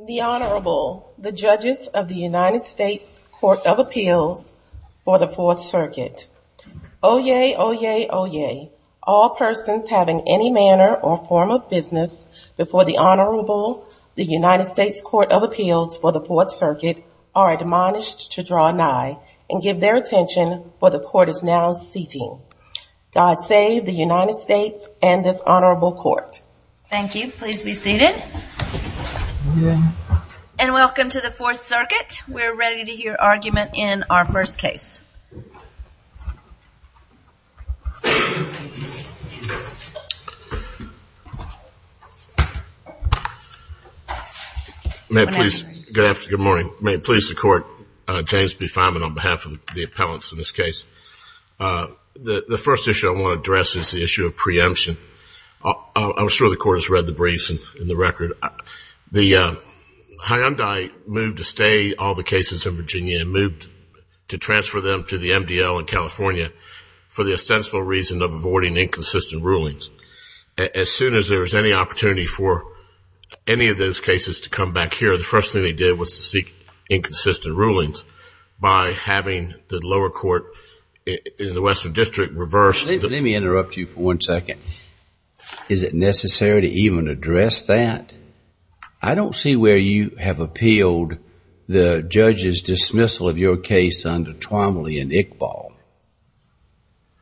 The Honorable, the Judges of the United States Court of Appeals for the Fourth Circuit. Oyez, oyez, oyez, all persons having any manner or form of business before the Honorable, the United States Court of Appeals for the Fourth Circuit, are admonished to draw nigh and give their attention, for the Court is now seating. God save the United States and this Honorable Court. Thank you. Please be seated. And welcome to the Fourth Circuit. We're ready to hear argument in our first case. May it please the Court, James B. Fineman on behalf of the appellants in this case. The first issue I want to address is the issue of preemption. I'm sure the Court has read the briefs and the record. The Hyundai moved to stay all the cases in Virginia and moved to transfer them to the MDL in California for the ostensible reason of avoiding inconsistent rulings. As soon as there was any opportunity for any of those cases to come back here, the first thing they did was to seek inconsistent rulings by having the lower court in the Western District reverse. Let me interrupt you for one second. Is it necessary to even address that? I don't see where you have appealed the judge's dismissal of your case under Twomley and Iqbal,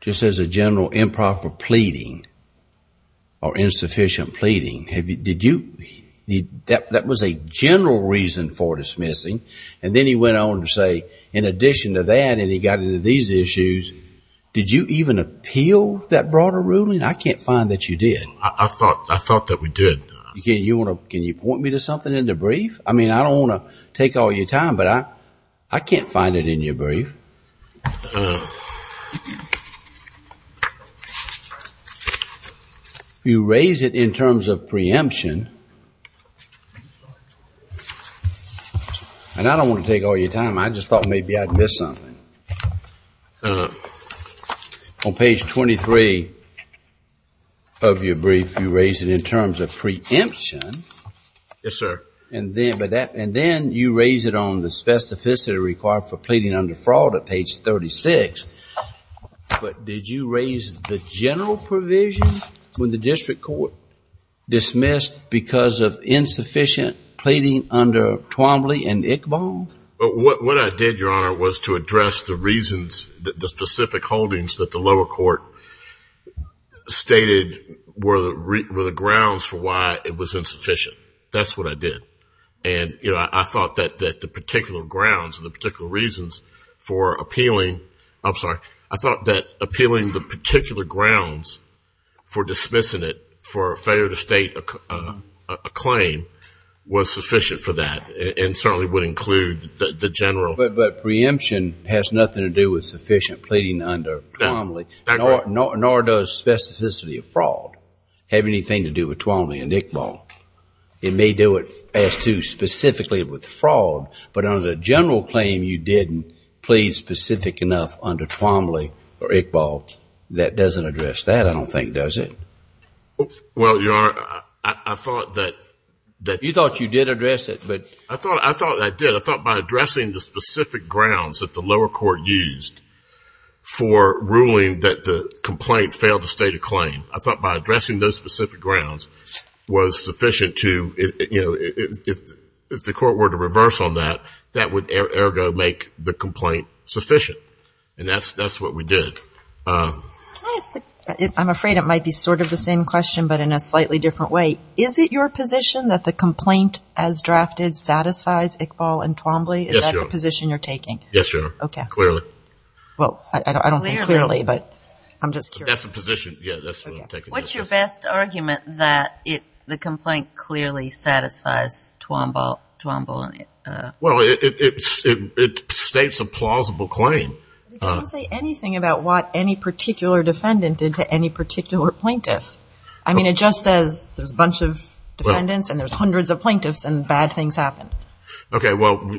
just as a general improper pleading or insufficient pleading. That was a general reason for dismissing. And then he went on to say, in addition to that, and he got into these issues, did you even appeal that broader ruling? I can't find that you did. I thought that we did. Can you point me to something in the brief? I mean, I don't want to take all your time, but I can't find it in your brief. You raise it in terms of preemption. And I don't want to take all your time. I just thought maybe I'd missed something. On page 23 of your brief, you raise it in terms of preemption. Yes, sir. And then you raise it on the specificity required for pleading under fraud at page 36. But did you raise the general provision when the district court dismissed because of insufficient pleading under Twomley and Iqbal? What I did, Your Honor, was to address the reasons, the specific holdings, that the lower court stated were the grounds for why it was insufficient. That's what I did. And, you know, I thought that the particular grounds and the particular reasons for appealing, I'm sorry, I thought that appealing the particular grounds for dismissing it for failure to state a claim was sufficient for that and certainly would include the general. But preemption has nothing to do with sufficient pleading under Twomley, nor does specificity of fraud have anything to do with Twomley and Iqbal. It may do it as to specifically with fraud, but under the general claim you didn't plead specific enough under Twomley or Iqbal. That doesn't address that, I don't think, does it? Well, Your Honor, I thought that... You thought you did address it, but... I thought I did. I thought by addressing the specific grounds that the lower court used for ruling that the complaint failed to state a claim, I thought by addressing those specific grounds was sufficient to, you know, if the court were to reverse on that, that would, ergo, make the complaint sufficient. And that's what we did. I'm afraid it might be sort of the same question but in a slightly different way. Is it your position that the complaint as drafted satisfies Iqbal and Twomley? Yes, Your Honor. Is that the position you're taking? Yes, Your Honor. Okay. Clearly. Well, I don't think clearly, but I'm just curious. That's the position, yes, that's what I'm taking. What's your best argument that the complaint clearly satisfies Twombley? Well, it states a plausible claim. It doesn't say anything about what any particular defendant did to any particular plaintiff. I mean, it just says there's a bunch of defendants and there's hundreds of plaintiffs and bad things happen. Okay, well,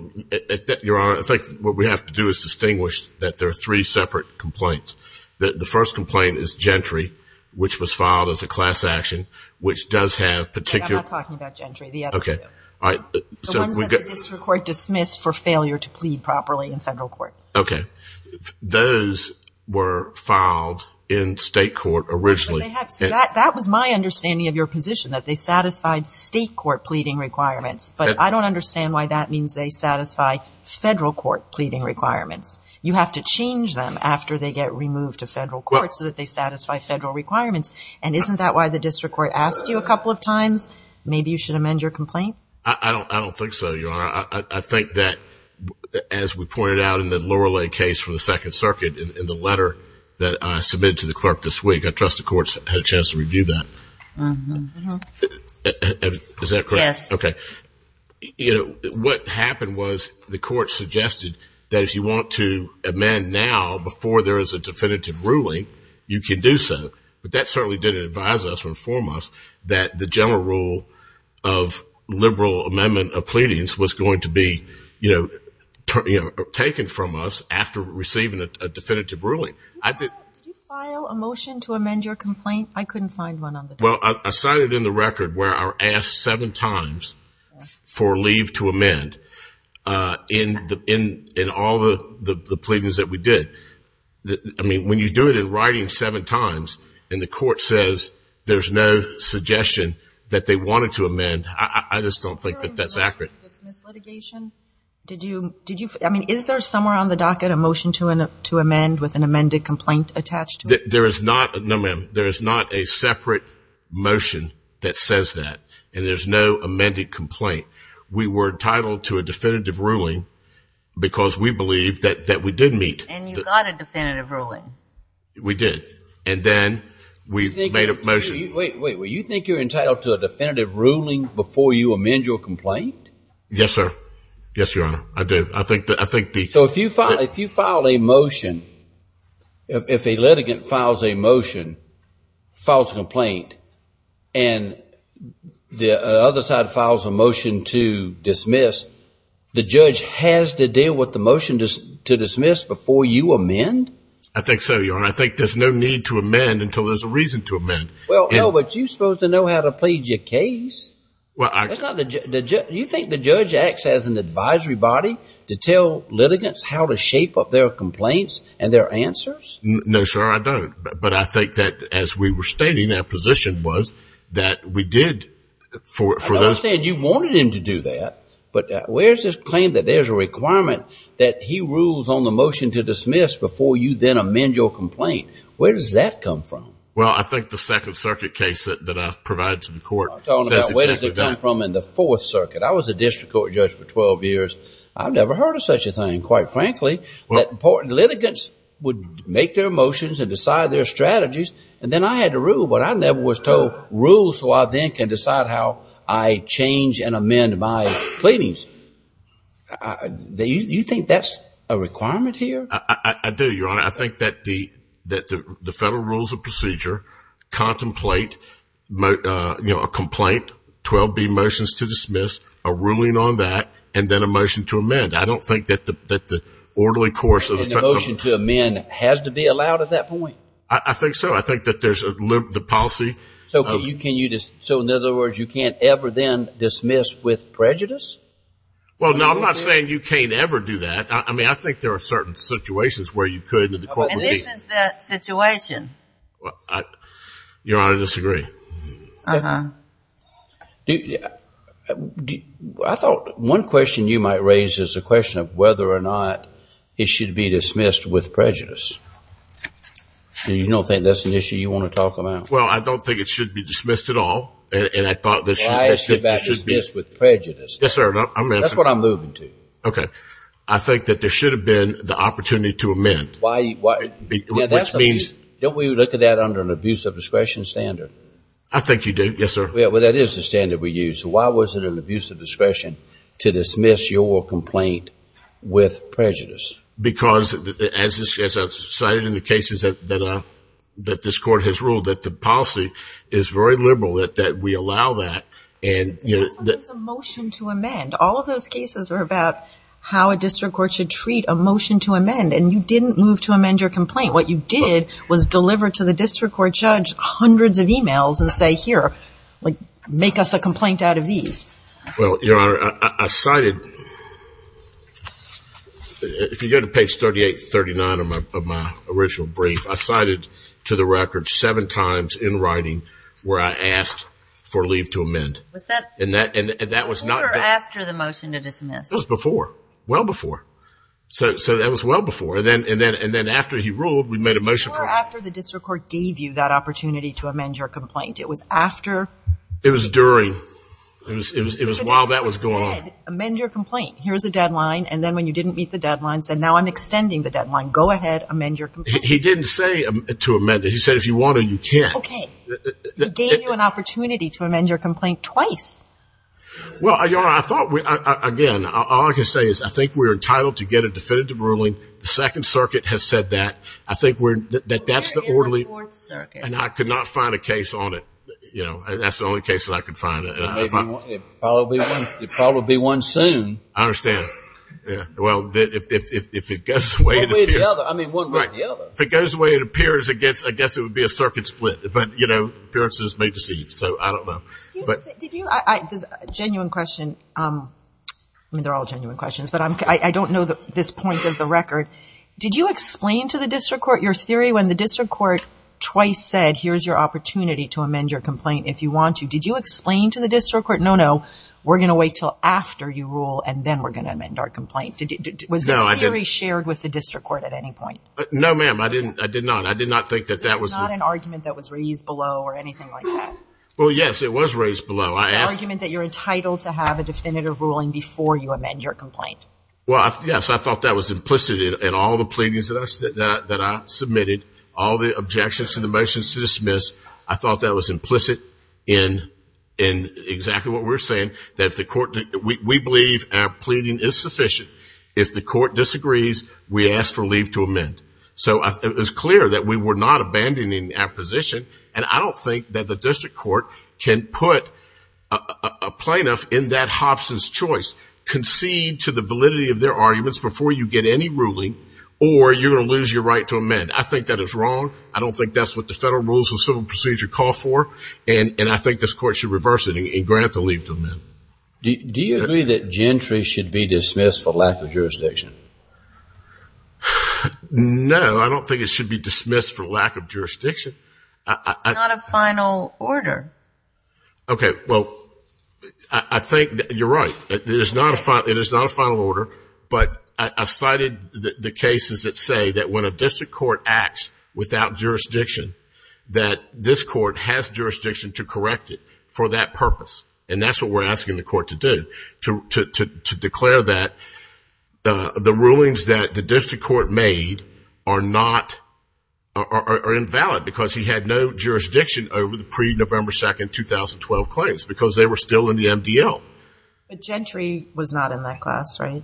Your Honor, I think what we have to do is distinguish that there are three separate complaints. The first complaint is Gentry, which was filed as a class action, which does have particular I'm not talking about Gentry, the other two. Okay. The ones that the district court dismissed for failure to plead properly in federal court. Okay. Those were filed in state court originally. That was my understanding of your position, that they satisfied state court pleading requirements, but I don't understand why that means they satisfy federal court pleading requirements. You have to change them after they get removed to federal court so that they satisfy federal requirements, and isn't that why the district court asked you a couple of times, maybe you should amend your complaint? I don't think so, Your Honor. I think that, as we pointed out in the Lorelei case for the Second Circuit, in the letter that I submitted to the clerk this week, I trust the courts had a chance to review that. Is that correct? Yes. Okay. What happened was the court suggested that if you want to amend now before there is a definitive ruling, you can do so, but that certainly didn't advise us or inform us that the general rule of liberal amendment of pleadings was going to be taken from us after receiving a definitive ruling. Did you file a motion to amend your complaint? I couldn't find one on the document. Well, I cited in the record where I was asked seven times for leave to amend in all the pleadings that we did. I mean, when you do it in writing seven times and the court says there's no suggestion that they wanted to amend, I just don't think that that's accurate. Was there a motion to dismiss litigation? I mean, is there somewhere on the docket a motion to amend with an amended complaint attached to it? No, ma'am. There is not a separate motion that says that, and there's no amended complaint. We were entitled to a definitive ruling because we believe that we did meet. And you got a definitive ruling. We did. And then we made a motion. Wait, wait, wait. You think you're entitled to a definitive ruling before you amend your complaint? Yes, sir. Yes, Your Honor. I do. So if you file a motion, if a litigant files a motion, files a complaint, and the other side files a motion to dismiss, the judge has to deal with the motion to dismiss before you amend? I think so, Your Honor. I think there's no need to amend until there's a reason to amend. Well, no, but you're supposed to know how to plead your case. You think the judge acts as an advisory body to tell litigants how to shape up their complaints and their answers? No, sir, I don't. But I think that as we were stating, our position was that we did for those. I understand you wanted him to do that, but where's his claim that there's a requirement that he rules on the motion to dismiss before you then amend your complaint? Where does that come from? Well, I think the Second Circuit case that I provided to the court says exactly that. I'm talking about where does it come from in the Fourth Circuit. I was a district court judge for 12 years. I've never heard of such a thing, quite frankly, that important litigants would make their motions and decide their strategies, and then I had to rule, but I never was told, rule so I then can decide how I change and amend my pleadings. You think that's a requirement here? I do, Your Honor. I think that the Federal Rules of Procedure contemplate, you know, a complaint, 12B motions to dismiss, a ruling on that, and then a motion to amend. I don't think that the orderly course of the Federal Rules of Procedure. And the motion to amend has to be allowed at that point? I think so. I think that there's the policy. So in other words, you can't ever then dismiss with prejudice? Well, no, I'm not saying you can't ever do that. I mean, I think there are certain situations where you could. And this is that situation. Your Honor, I disagree. I thought one question you might raise is a question of whether or not it should be dismissed with prejudice. You don't think that's an issue you want to talk about? Well, I don't think it should be dismissed at all. I asked you about dismissed with prejudice. Yes, sir. That's what I'm moving to. Okay. I think that there should have been the opportunity to amend. Don't we look at that under an abuse of discretion standard? I think you do. Yes, sir. Well, that is the standard we use. Why was it an abuse of discretion to dismiss your complaint with prejudice? Because, as I've cited in the cases that this Court has ruled, that the policy is very liberal that we allow that. There's a motion to amend. All of those cases are about how a district court should treat a motion to amend, and you didn't move to amend your complaint. What you did was deliver to the district court judge hundreds of emails and say, here, make us a complaint out of these. Well, Your Honor, I cited, if you go to page 3839 of my original brief, I cited to the record seven times in writing where I asked for leave to amend. Was that before or after the motion to dismiss? It was before, well before. So that was well before. And then after he ruled, we made a motion for it. It was before or after the district court gave you that opportunity to amend your complaint. It was after. It was during. It was while that was going on. The district court said, amend your complaint. Here's a deadline. And then when you didn't meet the deadline, said, now I'm extending the deadline. Go ahead, amend your complaint. He didn't say to amend it. He said, if you want to, you can. Okay. He gave you an opportunity to amend your complaint twice. Well, Your Honor, I thought, again, all I can say is I think we're entitled to get a definitive ruling. The Second Circuit has said that. I think that that's the orderly. We're in the Fourth Circuit. And I could not find a case on it. That's the only case that I could find. It probably will be one soon. I understand. Well, if it gets the way it appears. Right. If it goes the way it appears, I guess it would be a circuit split. But, you know, appearances may deceive. So I don't know. Did you? This is a genuine question. I mean, they're all genuine questions. But I don't know this point of the record. Did you explain to the district court your theory when the district court twice said, here's your opportunity to amend your complaint if you want to? Did you explain to the district court, no, no, we're going to wait until after you rule, and then we're going to amend our complaint? Was this theory shared with the district court at any point? No, ma'am. I did not. I did not think that that was. This is not an argument that was raised below or anything like that. Well, yes, it was raised below. An argument that you're entitled to have a definitive ruling before you amend your complaint. Well, yes, I thought that was implicit in all the pleadings that I submitted, all the objections to the motions to dismiss. I thought that was implicit in exactly what we're saying, that we believe our pleading is sufficient. If the court disagrees, we ask for leave to amend. So it was clear that we were not abandoning our position, and I don't think that the district court can put a plaintiff in that Hobson's choice, concede to the validity of their arguments before you get any ruling, or you're going to lose your right to amend. I think that it's wrong. I don't think that's what the federal rules of civil procedure call for, and I think this court should reverse it and grant the leave to amend. Do you agree that Gentry should be dismissed for lack of jurisdiction? No, I don't think it should be dismissed for lack of jurisdiction. It's not a final order. Okay, well, I think you're right. It is not a final order, but I've cited the cases that say that when a district court acts without jurisdiction, that this court has jurisdiction to correct it for that purpose, and that's what we're asking the court to do, to declare that the rulings that the district court made are not, are invalid because he had no jurisdiction over the pre-November 2nd, 2012 claims because they were still in the MDL. But Gentry was not in that class, right?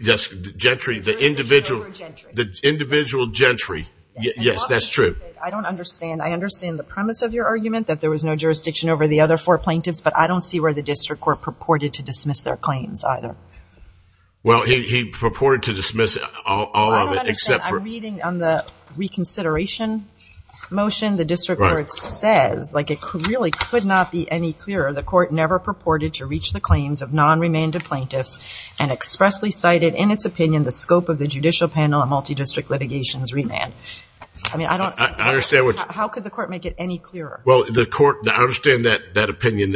Yes, Gentry, the individual, the individual Gentry. Yes, that's true. I don't understand. I understand the premise of your argument that there was no jurisdiction over the other four plaintiffs, but I don't see where the district court purported to dismiss their claims either. Well, he purported to dismiss all of it. I'm reading on the reconsideration motion. The district court says like it really could not be any clearer. The court never purported to reach the claims of non-remanded plaintiffs and expressly cited in its opinion, the scope of the judicial panel and multi-district litigations remand. I mean, I don't. I understand. How could the court make it any clearer? Well, the court, I understand that opinion,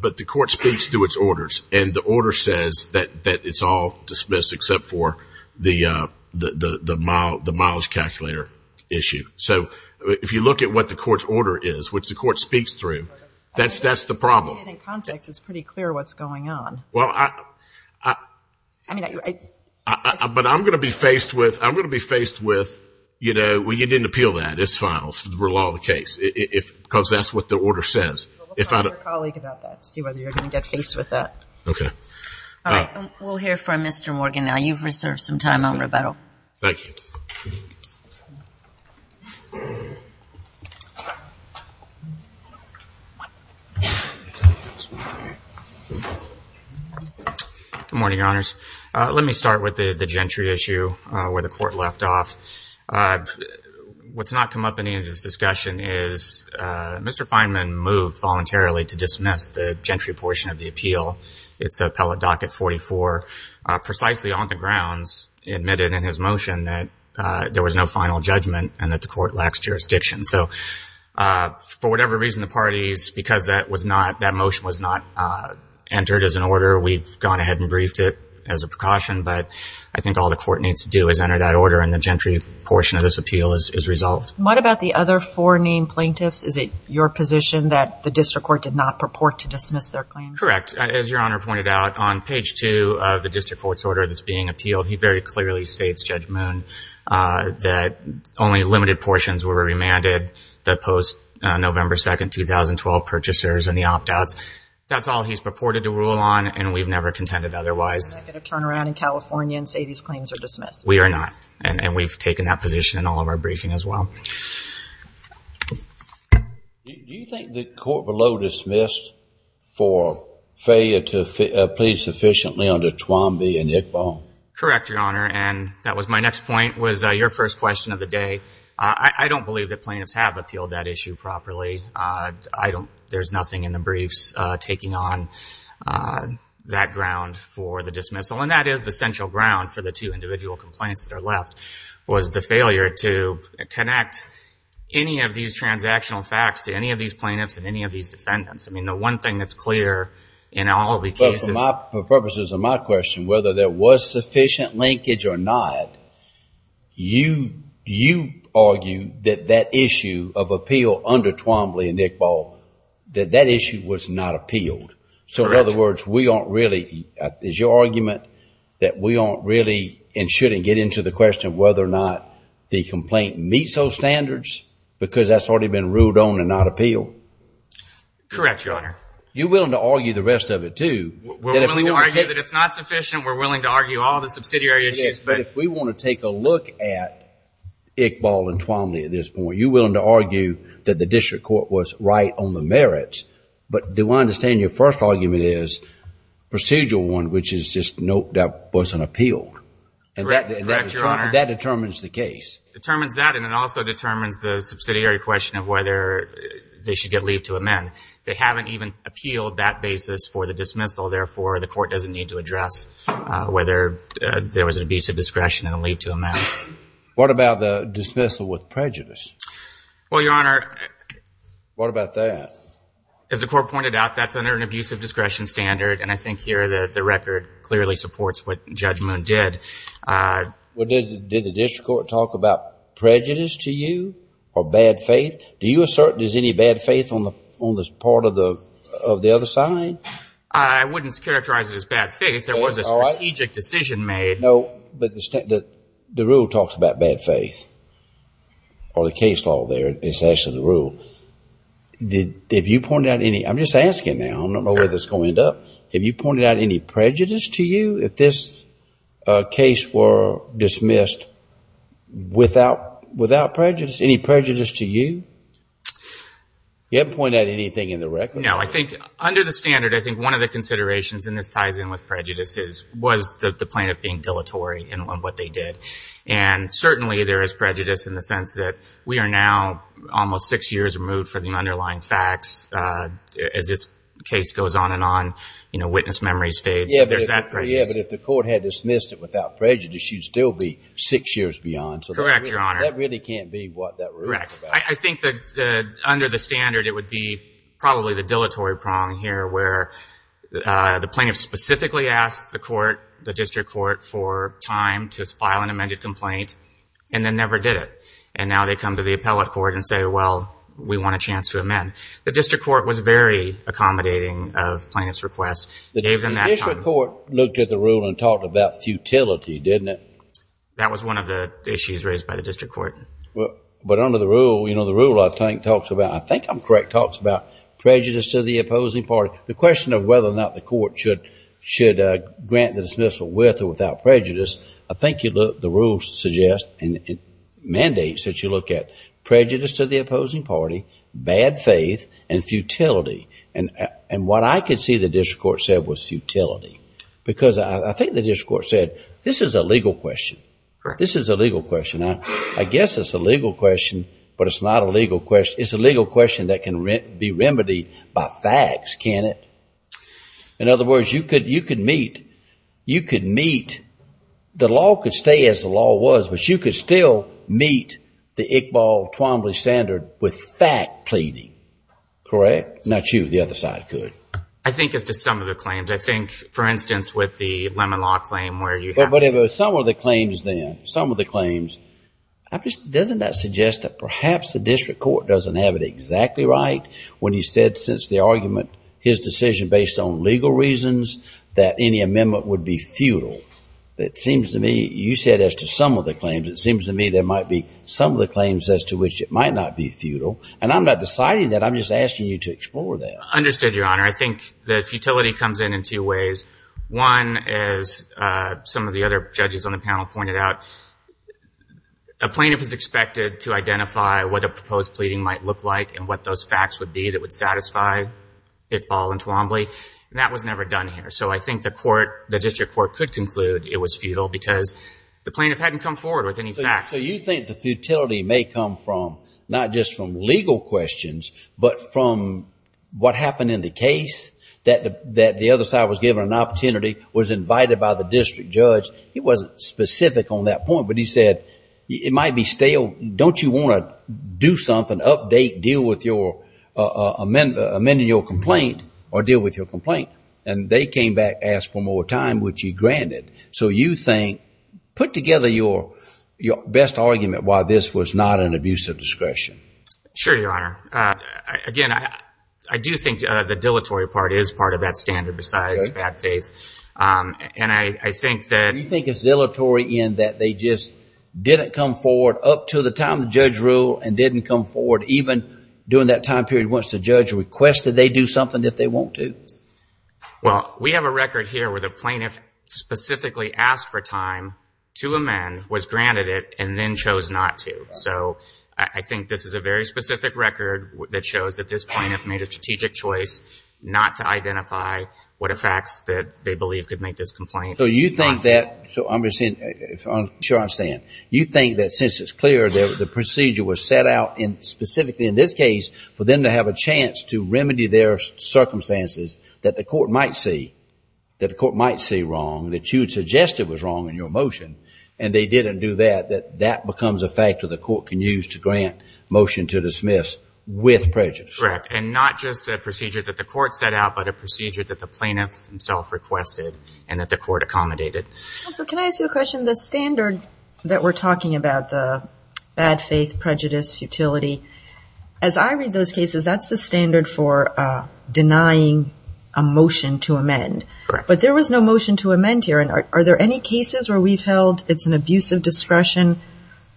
but the court speaks to its orders and the order says that it's all dismissed except for the mileage calculator issue. So if you look at what the court's order is, which the court speaks through, that's the problem. In context, it's pretty clear what's going on. But I'm going to be faced with, well, you didn't appeal that. It's final. It's the rule of the case because that's what the order says. We'll talk to your colleague about that to see whether you're going to get faced with that. Okay. All right. We'll hear from Mr. Morgan now. You've reserved some time on rebuttal. Thank you. Good morning, Your Honors. Let me start with the gentry issue where the court left off. What's not come up in any of this discussion is Mr. Fineman moved voluntarily to dismiss the gentry portion of the appeal. It's appellate docket 44. On the grounds admitted in his motion that there was no final judgment and that the court lacks jurisdiction. So for whatever reason, the parties, because that was not, that motion was not entered as an order, we've gone ahead and briefed it as a precaution. But I think all the court needs to do is enter that order and the gentry portion of this appeal is resolved. What about the other four named plaintiffs? Is it your position that the district court did not purport to dismiss their claim? Correct. As Your Honor pointed out, on page two of the district court's order that's being appealed, he very clearly states, Judge Moon, that only limited portions were remanded that post-November 2nd, 2012 purchasers and the opt-outs. That's all he's purported to rule on and we've never contended otherwise. Am I going to turn around in California and say these claims are dismissed? We are not. And we've taken that position in all of our briefing as well. Do you think the court below dismissed for failure to plead sufficiently under Twombly and Iqbal? Correct, Your Honor. And that was my next point, was your first question of the day. I don't believe that plaintiffs have appealed that issue properly. There's nothing in the briefs taking on that ground for the dismissal. And that is the central ground for the two individual complaints that are transactional facts to any of these plaintiffs and any of these defendants. The one thing that's clear in all of the cases. For purposes of my question, whether there was sufficient linkage or not, you argue that that issue of appeal under Twombly and Iqbal, that that issue was not appealed. Correct. So, in other words, we aren't really, is your argument that we aren't really and shouldn't get into the question of whether or not the complaint meets those standards? Because that's already been ruled on and not appealed? Correct, Your Honor. You're willing to argue the rest of it too? We're willing to argue that it's not sufficient. We're willing to argue all the subsidiary issues. But if we want to take a look at Iqbal and Twombly at this point, you're willing to argue that the district court was right on the merits. But do I understand your first argument is procedural one, which is just no, that wasn't appealed. Correct, Your Honor. That determines the case. Determines that and it also determines the subsidiary question of whether they should get leave to amend. They haven't even appealed that basis for the dismissal, therefore the court doesn't need to address whether there was an abusive discretion and a leave to amend. What about the dismissal with prejudice? Well, Your Honor. What about that? As the court pointed out, that's under an abusive discretion standard, and I think here the record clearly supports what Judge Moon did. Well, did the district court talk about prejudice to you or bad faith? Do you assert there's any bad faith on the part of the other side? I wouldn't characterize it as bad faith. There was a strategic decision made. No, but the rule talks about bad faith or the case law there. It's actually the rule. Did you point out any? I'm just asking now. I don't know where this is going to end up. Have you pointed out any prejudice to you if this case were dismissed without prejudice? Any prejudice to you? You haven't pointed out anything in the record? No. I think under the standard, I think one of the considerations, and this ties in with prejudice, was the plaintiff being dilatory in what they did, and certainly there is prejudice in the sense that we are now almost six years removed from the underlying facts as this case goes on and on, witness memories fade, so there's that prejudice. Yeah, but if the court had dismissed it without prejudice, you'd still be six years beyond. Correct, Your Honor. That really can't be what that rule is about. I think under the standard, it would be probably the dilatory prong here where the plaintiff specifically asked the court, the district court, for time to file an amended complaint and then never did it, and now they come to the appellate court and say, well, we want a chance to amend. The district court was very accommodating of plaintiff's requests. The district court looked at the rule and talked about futility, didn't it? That was one of the issues raised by the district court. But under the rule, you know, the rule I think talks about, I think I'm correct, talks about prejudice to the opposing party. The question of whether or not the court should grant the dismissal with or without prejudice, I think the rule suggests and mandates that you look at prejudice to the opposing party, bad faith, and futility. And what I could see the district court said was futility because I think the district court said, this is a legal question. This is a legal question. I guess it's a legal question, but it's not a legal question. It's a legal question that can be remedied by facts, can't it? In other words, you could meet, you could meet, the law could stay as the law was, but you could still meet the Iqbal Twombly standard with fact pleading. Correct? Not you, the other side could. I think as to some of the claims. I think, for instance, with the Lemon Law claim where you have But some of the claims then, some of the claims, doesn't that suggest that perhaps the district court doesn't have it exactly right when he said since the argument, his decision based on legal reasons, that any amendment would be futile. It seems to me, you said as to some of the claims, it seems to me there might be some of the claims as to which it might not be futile. And I'm not deciding that. I'm just asking you to explore that. Understood, Your Honor. I think that futility comes in in two ways. One, as some of the other judges on the panel pointed out, a plaintiff is expected to identify what a proposed pleading might look like and what those facts would be that would satisfy Iqbal and Twombly. That was never done here. So I think the district court could conclude it was futile because the plaintiff hadn't come forward with any facts. So you think the futility may come from not just from legal questions but from what happened in the case, that the other side was given an opportunity, was invited by the district judge. He wasn't specific on that point, but he said it might be stale. Don't you want to do something, update, deal with your amendment, amend your complaint, or deal with your complaint? And they came back, asked for more time, which he granted. So you think, put together your best argument why this was not an abuse of discretion. Sure, Your Honor. Again, I do think the dilatory part is part of that standard besides bad faith. And I think that... You think it's dilatory in that they just didn't come forward up to the time the judge ruled and didn't come forward even during that time period once the judge requested they do something if they want to? Well, we have a record here where the plaintiff specifically asked for time to amend, was granted it, and then chose not to. So I think this is a very specific record that shows that this plaintiff made a strategic choice not to identify what effects that they believe could make this complaint. So you think that... I'm sure I understand. You think that since it's clear that the procedure was set out specifically in this case for them to have a chance to remedy their circumstances that the court might see wrong, that you suggested was wrong in your motion, and they didn't do that, that that becomes a factor the court can use to grant motion to dismiss with prejudice. Correct. And not just a procedure that the court set out but a procedure that the plaintiff himself requested and that the court accommodated. Counsel, can I ask you a question? The standard that we're talking about, the bad faith, prejudice, futility, as I read those cases, that's the standard for denying a motion to amend. Correct. But there was no motion to amend here. Are there any cases where we've held it's an abusive discretion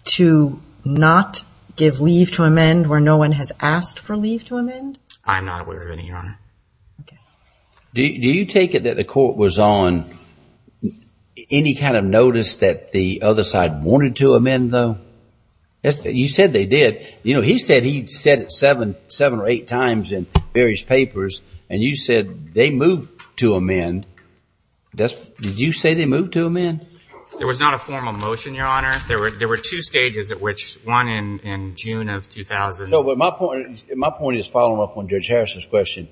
to not give leave to amend where no one has asked for leave to amend? I'm not aware of any, Your Honor. Okay. Do you take it that the court was on any kind of notice that the other side wanted to amend, though? You said they did. You know, he said he said it seven or eight times in various papers, and you said they moved to amend. Did you say they moved to amend? There was not a formal motion, Your Honor. There were two stages at which, one in June of 2000. My point is following up on Judge Harrison's question.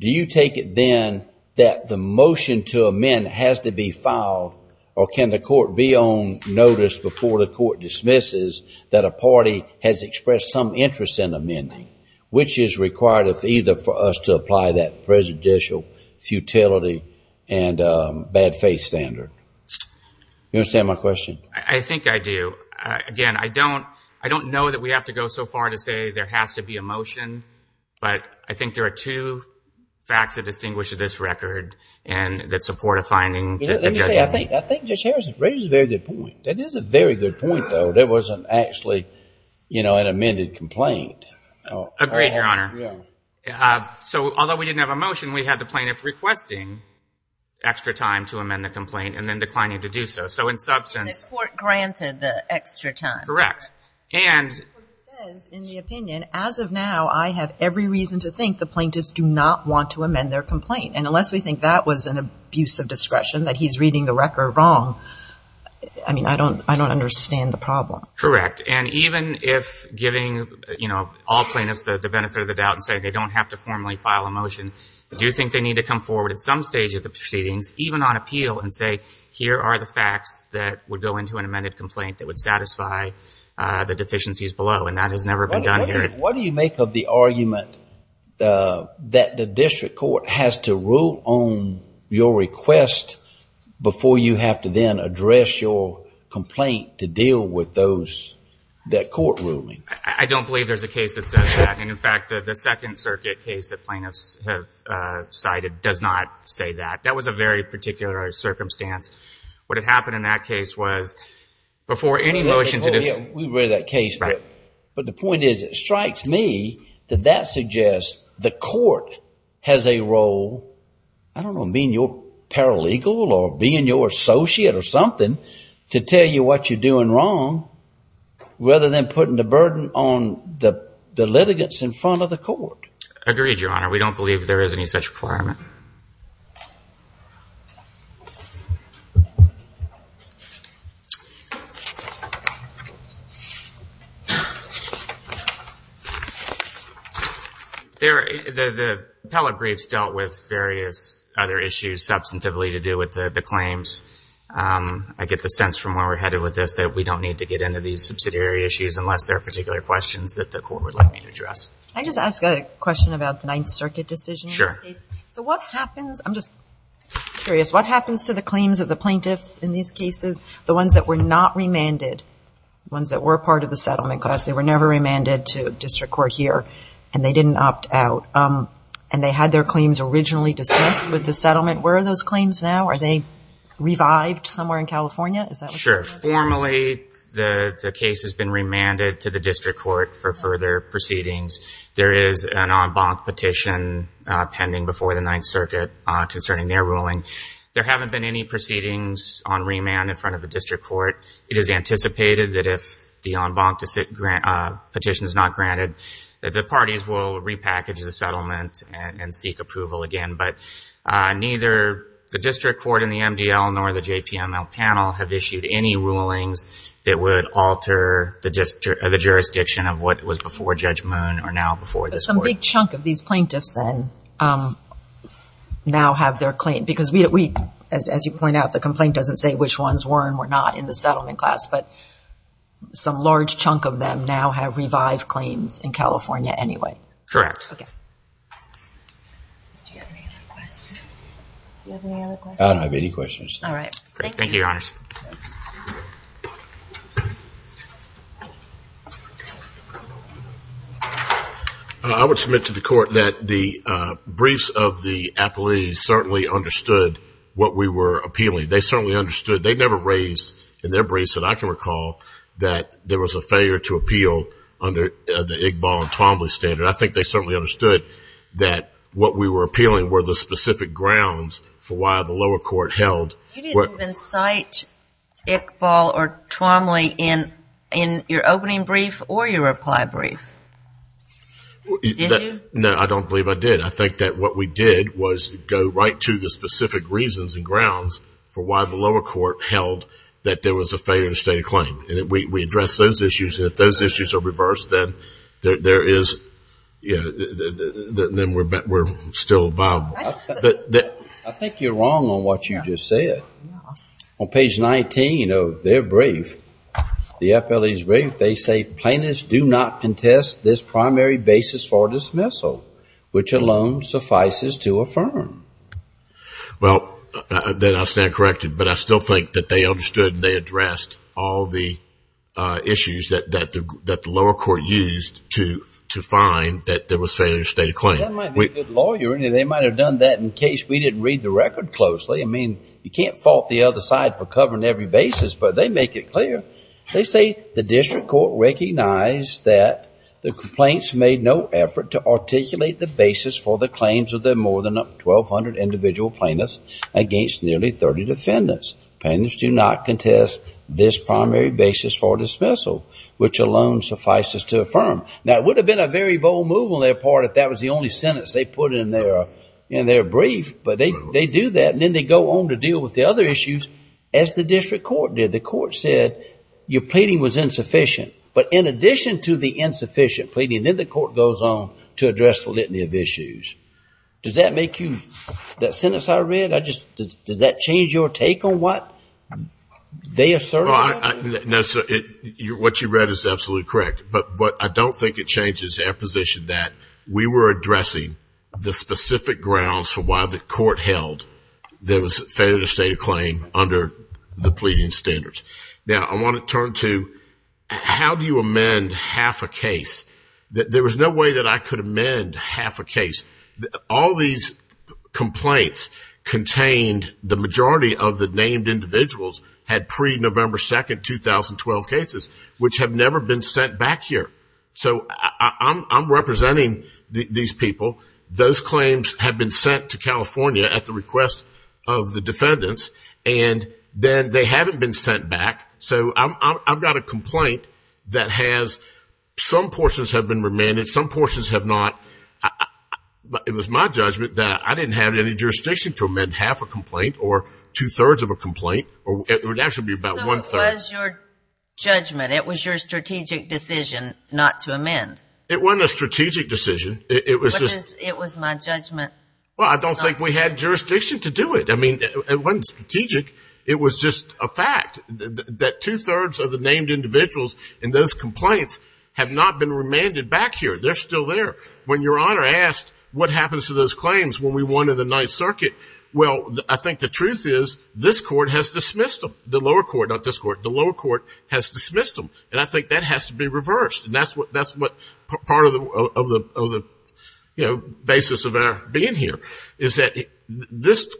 Do you take it then that the motion to amend has to be filed or can the court be on notice before the court dismisses that a party has expressed some interest in amending, which is required either for us to apply that prejudicial, futility, and bad faith standard? You understand my question? I think I do. Again, I don't know that we have to go so far to say there has to be a motion, but I think there are two facts that distinguish this record and that support a finding that the judgment. Let me say, I think Judge Harrison raises a very good point. That is a very good point, though. There wasn't actually, you know, an amended complaint. Agreed, Your Honor. So although we didn't have a motion, we had the plaintiff requesting extra time to amend the complaint and then declining to do so. So in substance. And the court granted the extra time. Correct. And the court says in the opinion, as of now I have every reason to think the plaintiffs do not want to amend their complaint. And unless we think that was an abuse of discretion, that he's reading the record wrong, I mean, I don't understand the problem. Correct. And even if giving, you know, all plaintiffs the benefit of the doubt and saying they don't have to formally file a motion, do you think they need to come forward at some stage of the proceedings, even on appeal, and say here are the facts that would go into an amended complaint that would satisfy the deficiencies below? And that has never been done here. What do you make of the argument that the district court has to rule on your request before you have to then address your complaint to deal with those, that court ruling? I don't believe there's a case that says that. And, in fact, the Second Circuit case that plaintiffs have cited does not say that. That was a very particular circumstance. What had happened in that case was before any motion to dis- We read that case. Right. But the point is it strikes me that that suggests the court has a role, I don't know, being your paralegal or being your associate or something, to tell you what you're doing wrong rather than putting the burden on the litigants in front of the court. Agreed, Your Honor. We don't believe there is any such requirement. The appellate briefs dealt with various other issues substantively to do with the claims. I get the sense from where we're headed with this that we don't need to get into these subsidiary issues unless there are particular questions that the court would like me to address. Can I just ask a question about the Ninth Circuit decision? Sure. So what happens, I'm just curious, what happens to the claims of the plaintiffs in these cases, the ones that were not remanded, ones that were part of the settlement class, they were never remanded to district court here and they didn't opt out and they had their claims originally dismissed with the settlement. Where are those claims now? Are they revived somewhere in California? Is that what you're saying? Sure. Formally the case has been remanded to the district court for further proceedings. There is an en banc petition pending before the Ninth Circuit concerning their ruling. There haven't been any proceedings on remand in front of the district court. It is anticipated that if the en banc petition is not granted, that the parties will repackage the settlement and seek approval again. But neither the district court in the MDL nor the JPML panel have issued any rulings that would alter the jurisdiction of what was before Judge Moon or now before this court. So a big chunk of these plaintiffs then now have their claim. Because as you point out, the complaint doesn't say which ones were and were not in the settlement class. But some large chunk of them now have revived claims in California anyway. Correct. Okay. Do you have any other questions? Do you have any other questions? I don't have any questions. All right. Thank you. Thank you, Your Honors. I would submit to the court that the briefs of the appellees certainly understood what we were appealing. They certainly understood. They never raised in their briefs that I can recall that there was a failure to appeal under the Igbal and Twombly standard. I think they certainly understood that what we were appealing were the specific grounds for why the lower court held. You didn't even cite Igbal or Twombly in your opening brief or your reply brief. Did you? No, I don't believe I did. I think that what we did was go right to the specific reasons and grounds for why the lower court held that there was a failure to state a claim. We addressed those issues. If those issues are reversed, then we're still viable. I think you're wrong on what you just said. On page 19 of their brief, the appellee's brief, they say, plaintiffs do not contest this primary basis for dismissal, which alone suffices to affirm. Well, then I'll stand corrected, but I still think that they understood and they addressed all the issues that the lower court used to find that there was failure to state a claim. That might be a good lawyer. They might have done that in case we didn't read the record closely. I mean, you can't fault the other side for covering every basis, but they make it clear. They say the district court recognized that the complaints made no effort to articulate the basis for the claims of the more than 1,200 individual plaintiffs against nearly 30 defendants. Plaintiffs do not contest this primary basis for dismissal, which alone suffices to affirm. Now, it would have been a very bold move on their part if that was the only sentence they put in their brief, but they do that, and then they go on to deal with the other issues as the district court did. The court said your pleading was insufficient, but in addition to the insufficient pleading, then the court goes on to address the litany of issues. Does that sentence I read, does that change your take on what they assert? What you read is absolutely correct, but I don't think it changes their position that we were addressing the specific grounds for why the court held there was failure to state a claim under the pleading standards. Now, I want to turn to how do you amend half a case? There was no way that I could amend half a case. All these complaints contained the majority of the named individuals had pre-November 2, 2012 cases, which have never been sent back here. So I'm representing these people. Those claims have been sent to California at the request of the defendants, and then they haven't been sent back. So I've got a complaint that has some portions have been remanded, some portions have not. It was my judgment that I didn't have any jurisdiction to amend half a complaint or two-thirds of a complaint. It would actually be about one-third. So it was your judgment. It was your strategic decision not to amend. It wasn't a strategic decision. It was my judgment. Well, I don't think we had jurisdiction to do it. I mean, it wasn't strategic. It was just a fact that two-thirds of the named individuals in those complaints have not been remanded back here. They're still there. When Your Honor asked what happens to those claims when we won in the Ninth Court, the lower court has dismissed them. And I think that has to be reversed. And that's part of the basis of our being here, is that this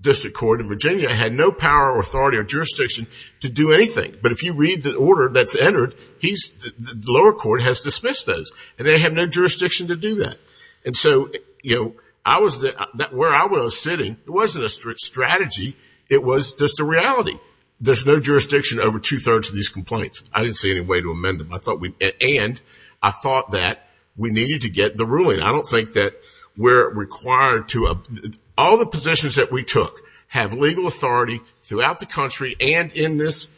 district court in Virginia had no power or authority or jurisdiction to do anything. But if you read the order that's entered, the lower court has dismissed those, and they have no jurisdiction to do that. And so where I was sitting, it wasn't a strategy. It was just a reality. There's no jurisdiction over two-thirds of these complaints. I didn't see any way to amend them. And I thought that we needed to get the ruling. I don't think that we're required to – all the positions that we took have legal authority throughout the country and in this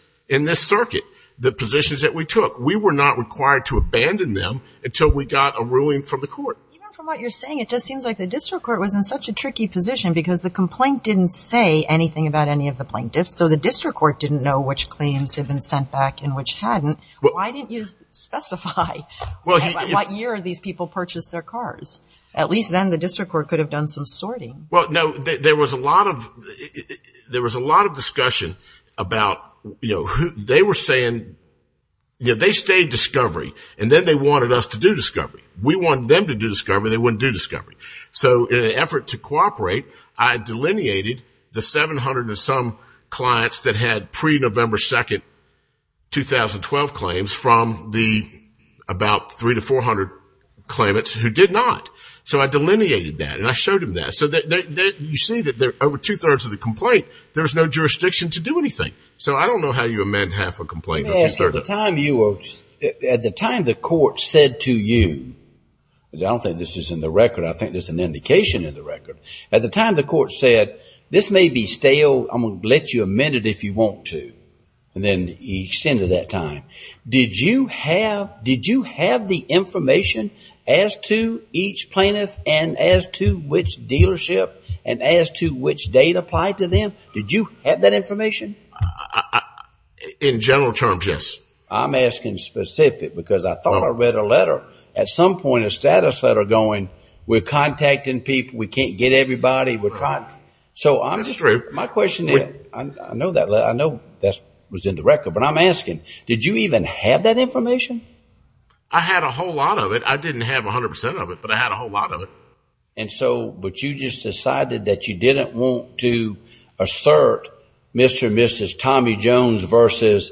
circuit, the positions that we took. We were not required to abandon them until we got a ruling from the court. Even from what you're saying, it just seems like the district court was in such a tricky position because the complaint didn't say anything about any of the plaintiffs, so the district court didn't know which claims had been sent back and which hadn't. Why didn't you specify what year these people purchased their cars? At least then the district court could have done some sorting. Well, no, there was a lot of discussion about, you know, they were saying, you know, they stayed discovery and then they wanted us to do discovery. We wanted them to do discovery and they wouldn't do discovery. So in an effort to cooperate, I delineated the 700 and some clients that had pre-November 2, 2012 claims from the about 300 to 400 claimants who did not. So I delineated that and I showed them that. So you see that over two-thirds of the complaint, there was no jurisdiction to do anything. So I don't know how you amend half a complaint. At the time the court said to you, I don't think this is in the record. I think there's an indication in the record. At the time the court said, this may be stale. I'm going to let you amend it if you want to. And then he extended that time. Did you have the information as to each plaintiff and as to which dealership and as to which date applied to them? Did you have that information? I'm asking specific because I thought I read a letter. At some point a status letter going, we're contacting people. We can't get everybody. So my question is, I know that was in the record, but I'm asking did you even have that information? I had a whole lot of it. I didn't have 100% of it, but I had a whole lot of it. But you just decided that you didn't want to assert Mr. and Mrs. Tommy Jones versus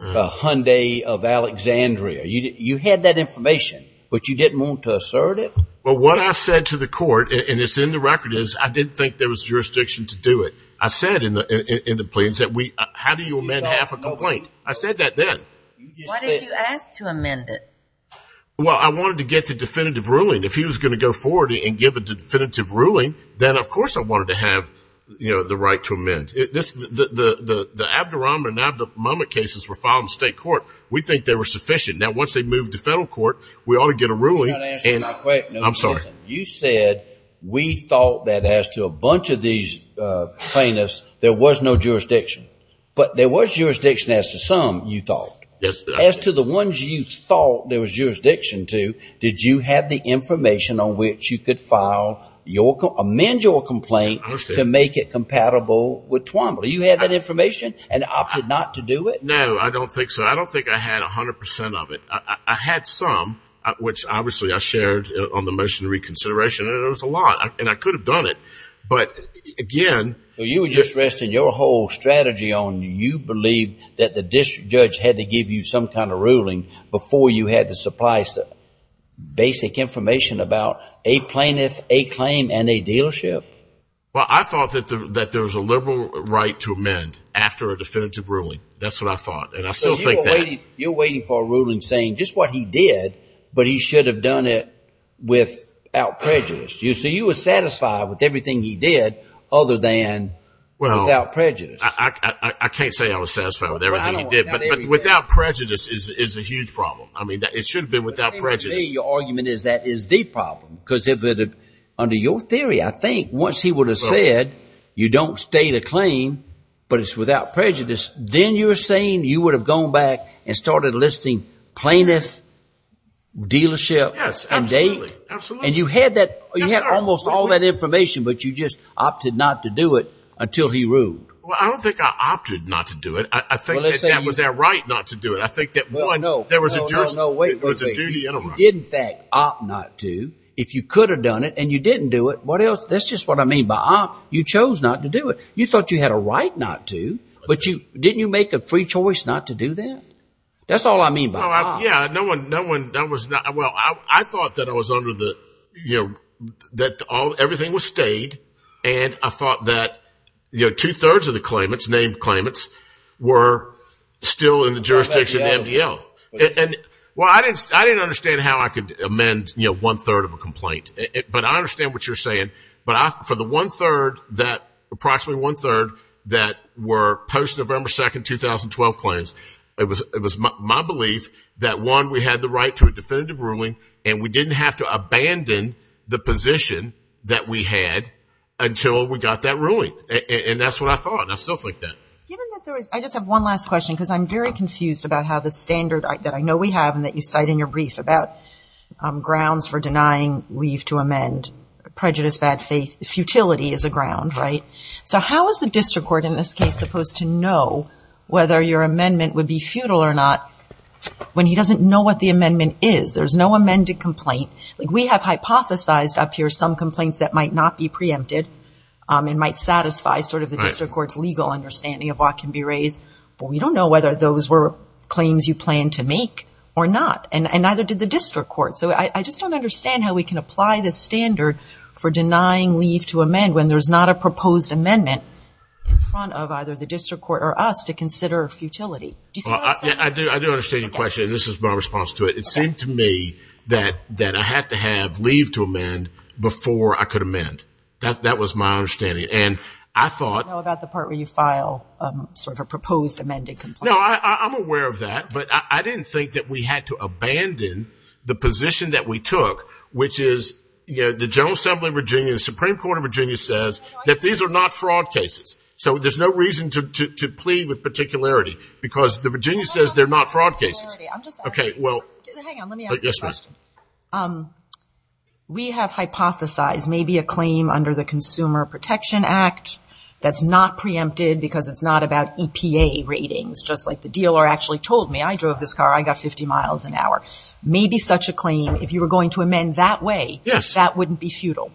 the Hyundai of Alexandria. You had that information, but you didn't want to assert it? Well, what I said to the court, and it's in the record, is I didn't think there was jurisdiction to do it. I said in the plea, how do you amend half a complaint? I said that then. Why did you ask to amend it? Well, I wanted to get the definitive ruling. If he was going to go forward and give a definitive ruling, then of course I wanted to have the right to amend. The Abderrahman and Abdomen cases were filed in state court. We think they were sufficient. Now, once they moved to federal court, we ought to get a ruling. I'm sorry. You said we thought that as to a bunch of these plaintiffs, there was no jurisdiction. But there was jurisdiction as to some, you thought. As to the ones you thought there was jurisdiction to, did you have the information on which you could amend your complaint to make it compatible with Twombly? You had that information and opted not to do it? No, I don't think so. I had some, which obviously I shared on the motion of reconsideration, and it was a lot, and I could have done it. But, again. So you were just resting your whole strategy on you believed that the district judge had to give you some kind of ruling before you had to supply basic information about a plaintiff, a claim, and a dealership? Well, I thought that there was a liberal right to amend after a definitive ruling. That's what I thought, and I still think that. You're waiting for a ruling saying just what he did, but he should have done it without prejudice. So you were satisfied with everything he did other than without prejudice? I can't say I was satisfied with everything he did, but without prejudice is a huge problem. I mean, it should have been without prejudice. Your argument is that is the problem, because under your theory, I think once he would have said you don't state a claim, but it's without prejudice, then you're saying you would have gone back and started listing plaintiff, dealership, and date? Yes, absolutely. And you had almost all that information, but you just opted not to do it until he ruled. Well, I don't think I opted not to do it. I think that was our right not to do it. I think that there was a duty. You did, in fact, opt not to. If you could have done it and you didn't do it, what else? That's just what I mean by opt. You chose not to do it. You thought you had a right not to, but didn't you make a free choice not to do that? That's all I mean by opt. Yeah, no one, that was not. Well, I thought that I was under the, you know, that everything was stayed, and I thought that, you know, two-thirds of the claimants, named claimants, were still in the jurisdiction of MDL. Well, I didn't understand how I could amend, you know, one-third of a complaint, but I understand what you're saying. But for the one-third that, approximately one-third, that were post-November 2, 2012 claims, it was my belief that, one, we had the right to a definitive ruling, and we didn't have to abandon the position that we had until we got that ruling, and that's what I thought, and I still think that. I just have one last question because I'm very confused about how the standard that I know we have and that you cite in your brief about grounds for denying leave to amend prejudice, bad faith, futility is a ground, right? So how is the district court in this case supposed to know whether your amendment would be futile or not when he doesn't know what the amendment is? There's no amended complaint. We have hypothesized up here some complaints that might not be preempted and might satisfy sort of the district court's legal understanding of what can be raised, but we don't know whether those were claims you planned to make or not, and neither did the district court. So I just don't understand how we can apply this standard for denying leave to amend when there's not a proposed amendment in front of either the district court or us to consider futility. Do you see what I'm saying? I do understand your question, and this is my response to it. Okay. It seemed to me that I had to have leave to amend before I could amend. That was my understanding, and I thought – I don't know about the part where you file sort of a proposed amended complaint. No, I'm aware of that, but I didn't think that we had to abandon the position that we took, which is the General Assembly of Virginia, the Supreme Court of Virginia says that these are not fraud cases. So there's no reason to plead with particularity because the Virginia says they're not fraud cases. Okay, well – Hang on. Let me ask you a question. Yes, ma'am. We have hypothesized maybe a claim under the Consumer Protection Act that's not preempted because it's not about EPA ratings, just like the DLR actually told me. I drove this car. I got 50 miles an hour. Maybe such a claim, if you were going to amend that way – Yes. That wouldn't be futile.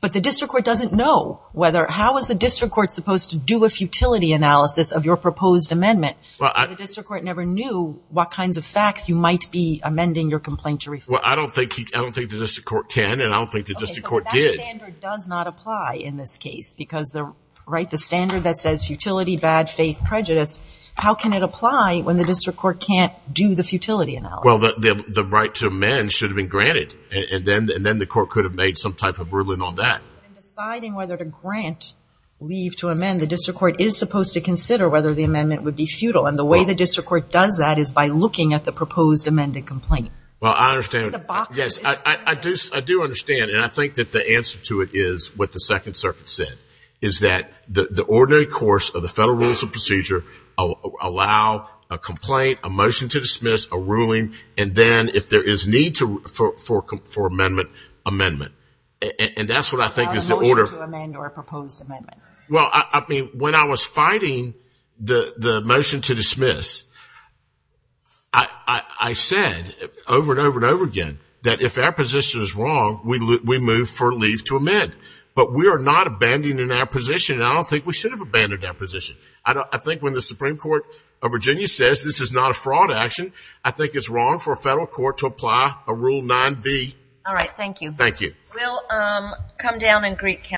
But the district court doesn't know whether – how is the district court supposed to do a futility analysis of your proposed amendment? Well, I – The district court never knew what kinds of facts you might be amending your complaint to reflect. Well, I don't think the district court can, and I don't think the district court did. Okay, so that standard does not apply in this case because the – right? If you have a standard that says futility, bad faith, prejudice, how can it apply when the district court can't do the futility analysis? Well, the right to amend should have been granted, and then the court could have made some type of ruling on that. In deciding whether to grant leave to amend, the district court is supposed to consider whether the amendment would be futile, and the way the district court does that is by looking at the proposed amended complaint. Well, I understand – See the box – Yes, I do understand, and I think that the answer to it is what the Second Circuit said, is that the ordinary course of the Federal Rules of Procedure allow a complaint, a motion to dismiss, a ruling, and then if there is need for amendment, amendment. And that's what I think is the order – Not a motion to amend or a proposed amendment. Well, I mean, when I was fighting the motion to dismiss, I said over and over and over again that if our position is wrong, we move for leave to amend. But we are not abandoning our position, and I don't think we should have abandoned our position. I think when the Supreme Court of Virginia says this is not a fraud action, I think it's wrong for a federal court to apply a Rule 9b. All right, thank you. Thank you. We'll come down in Greek.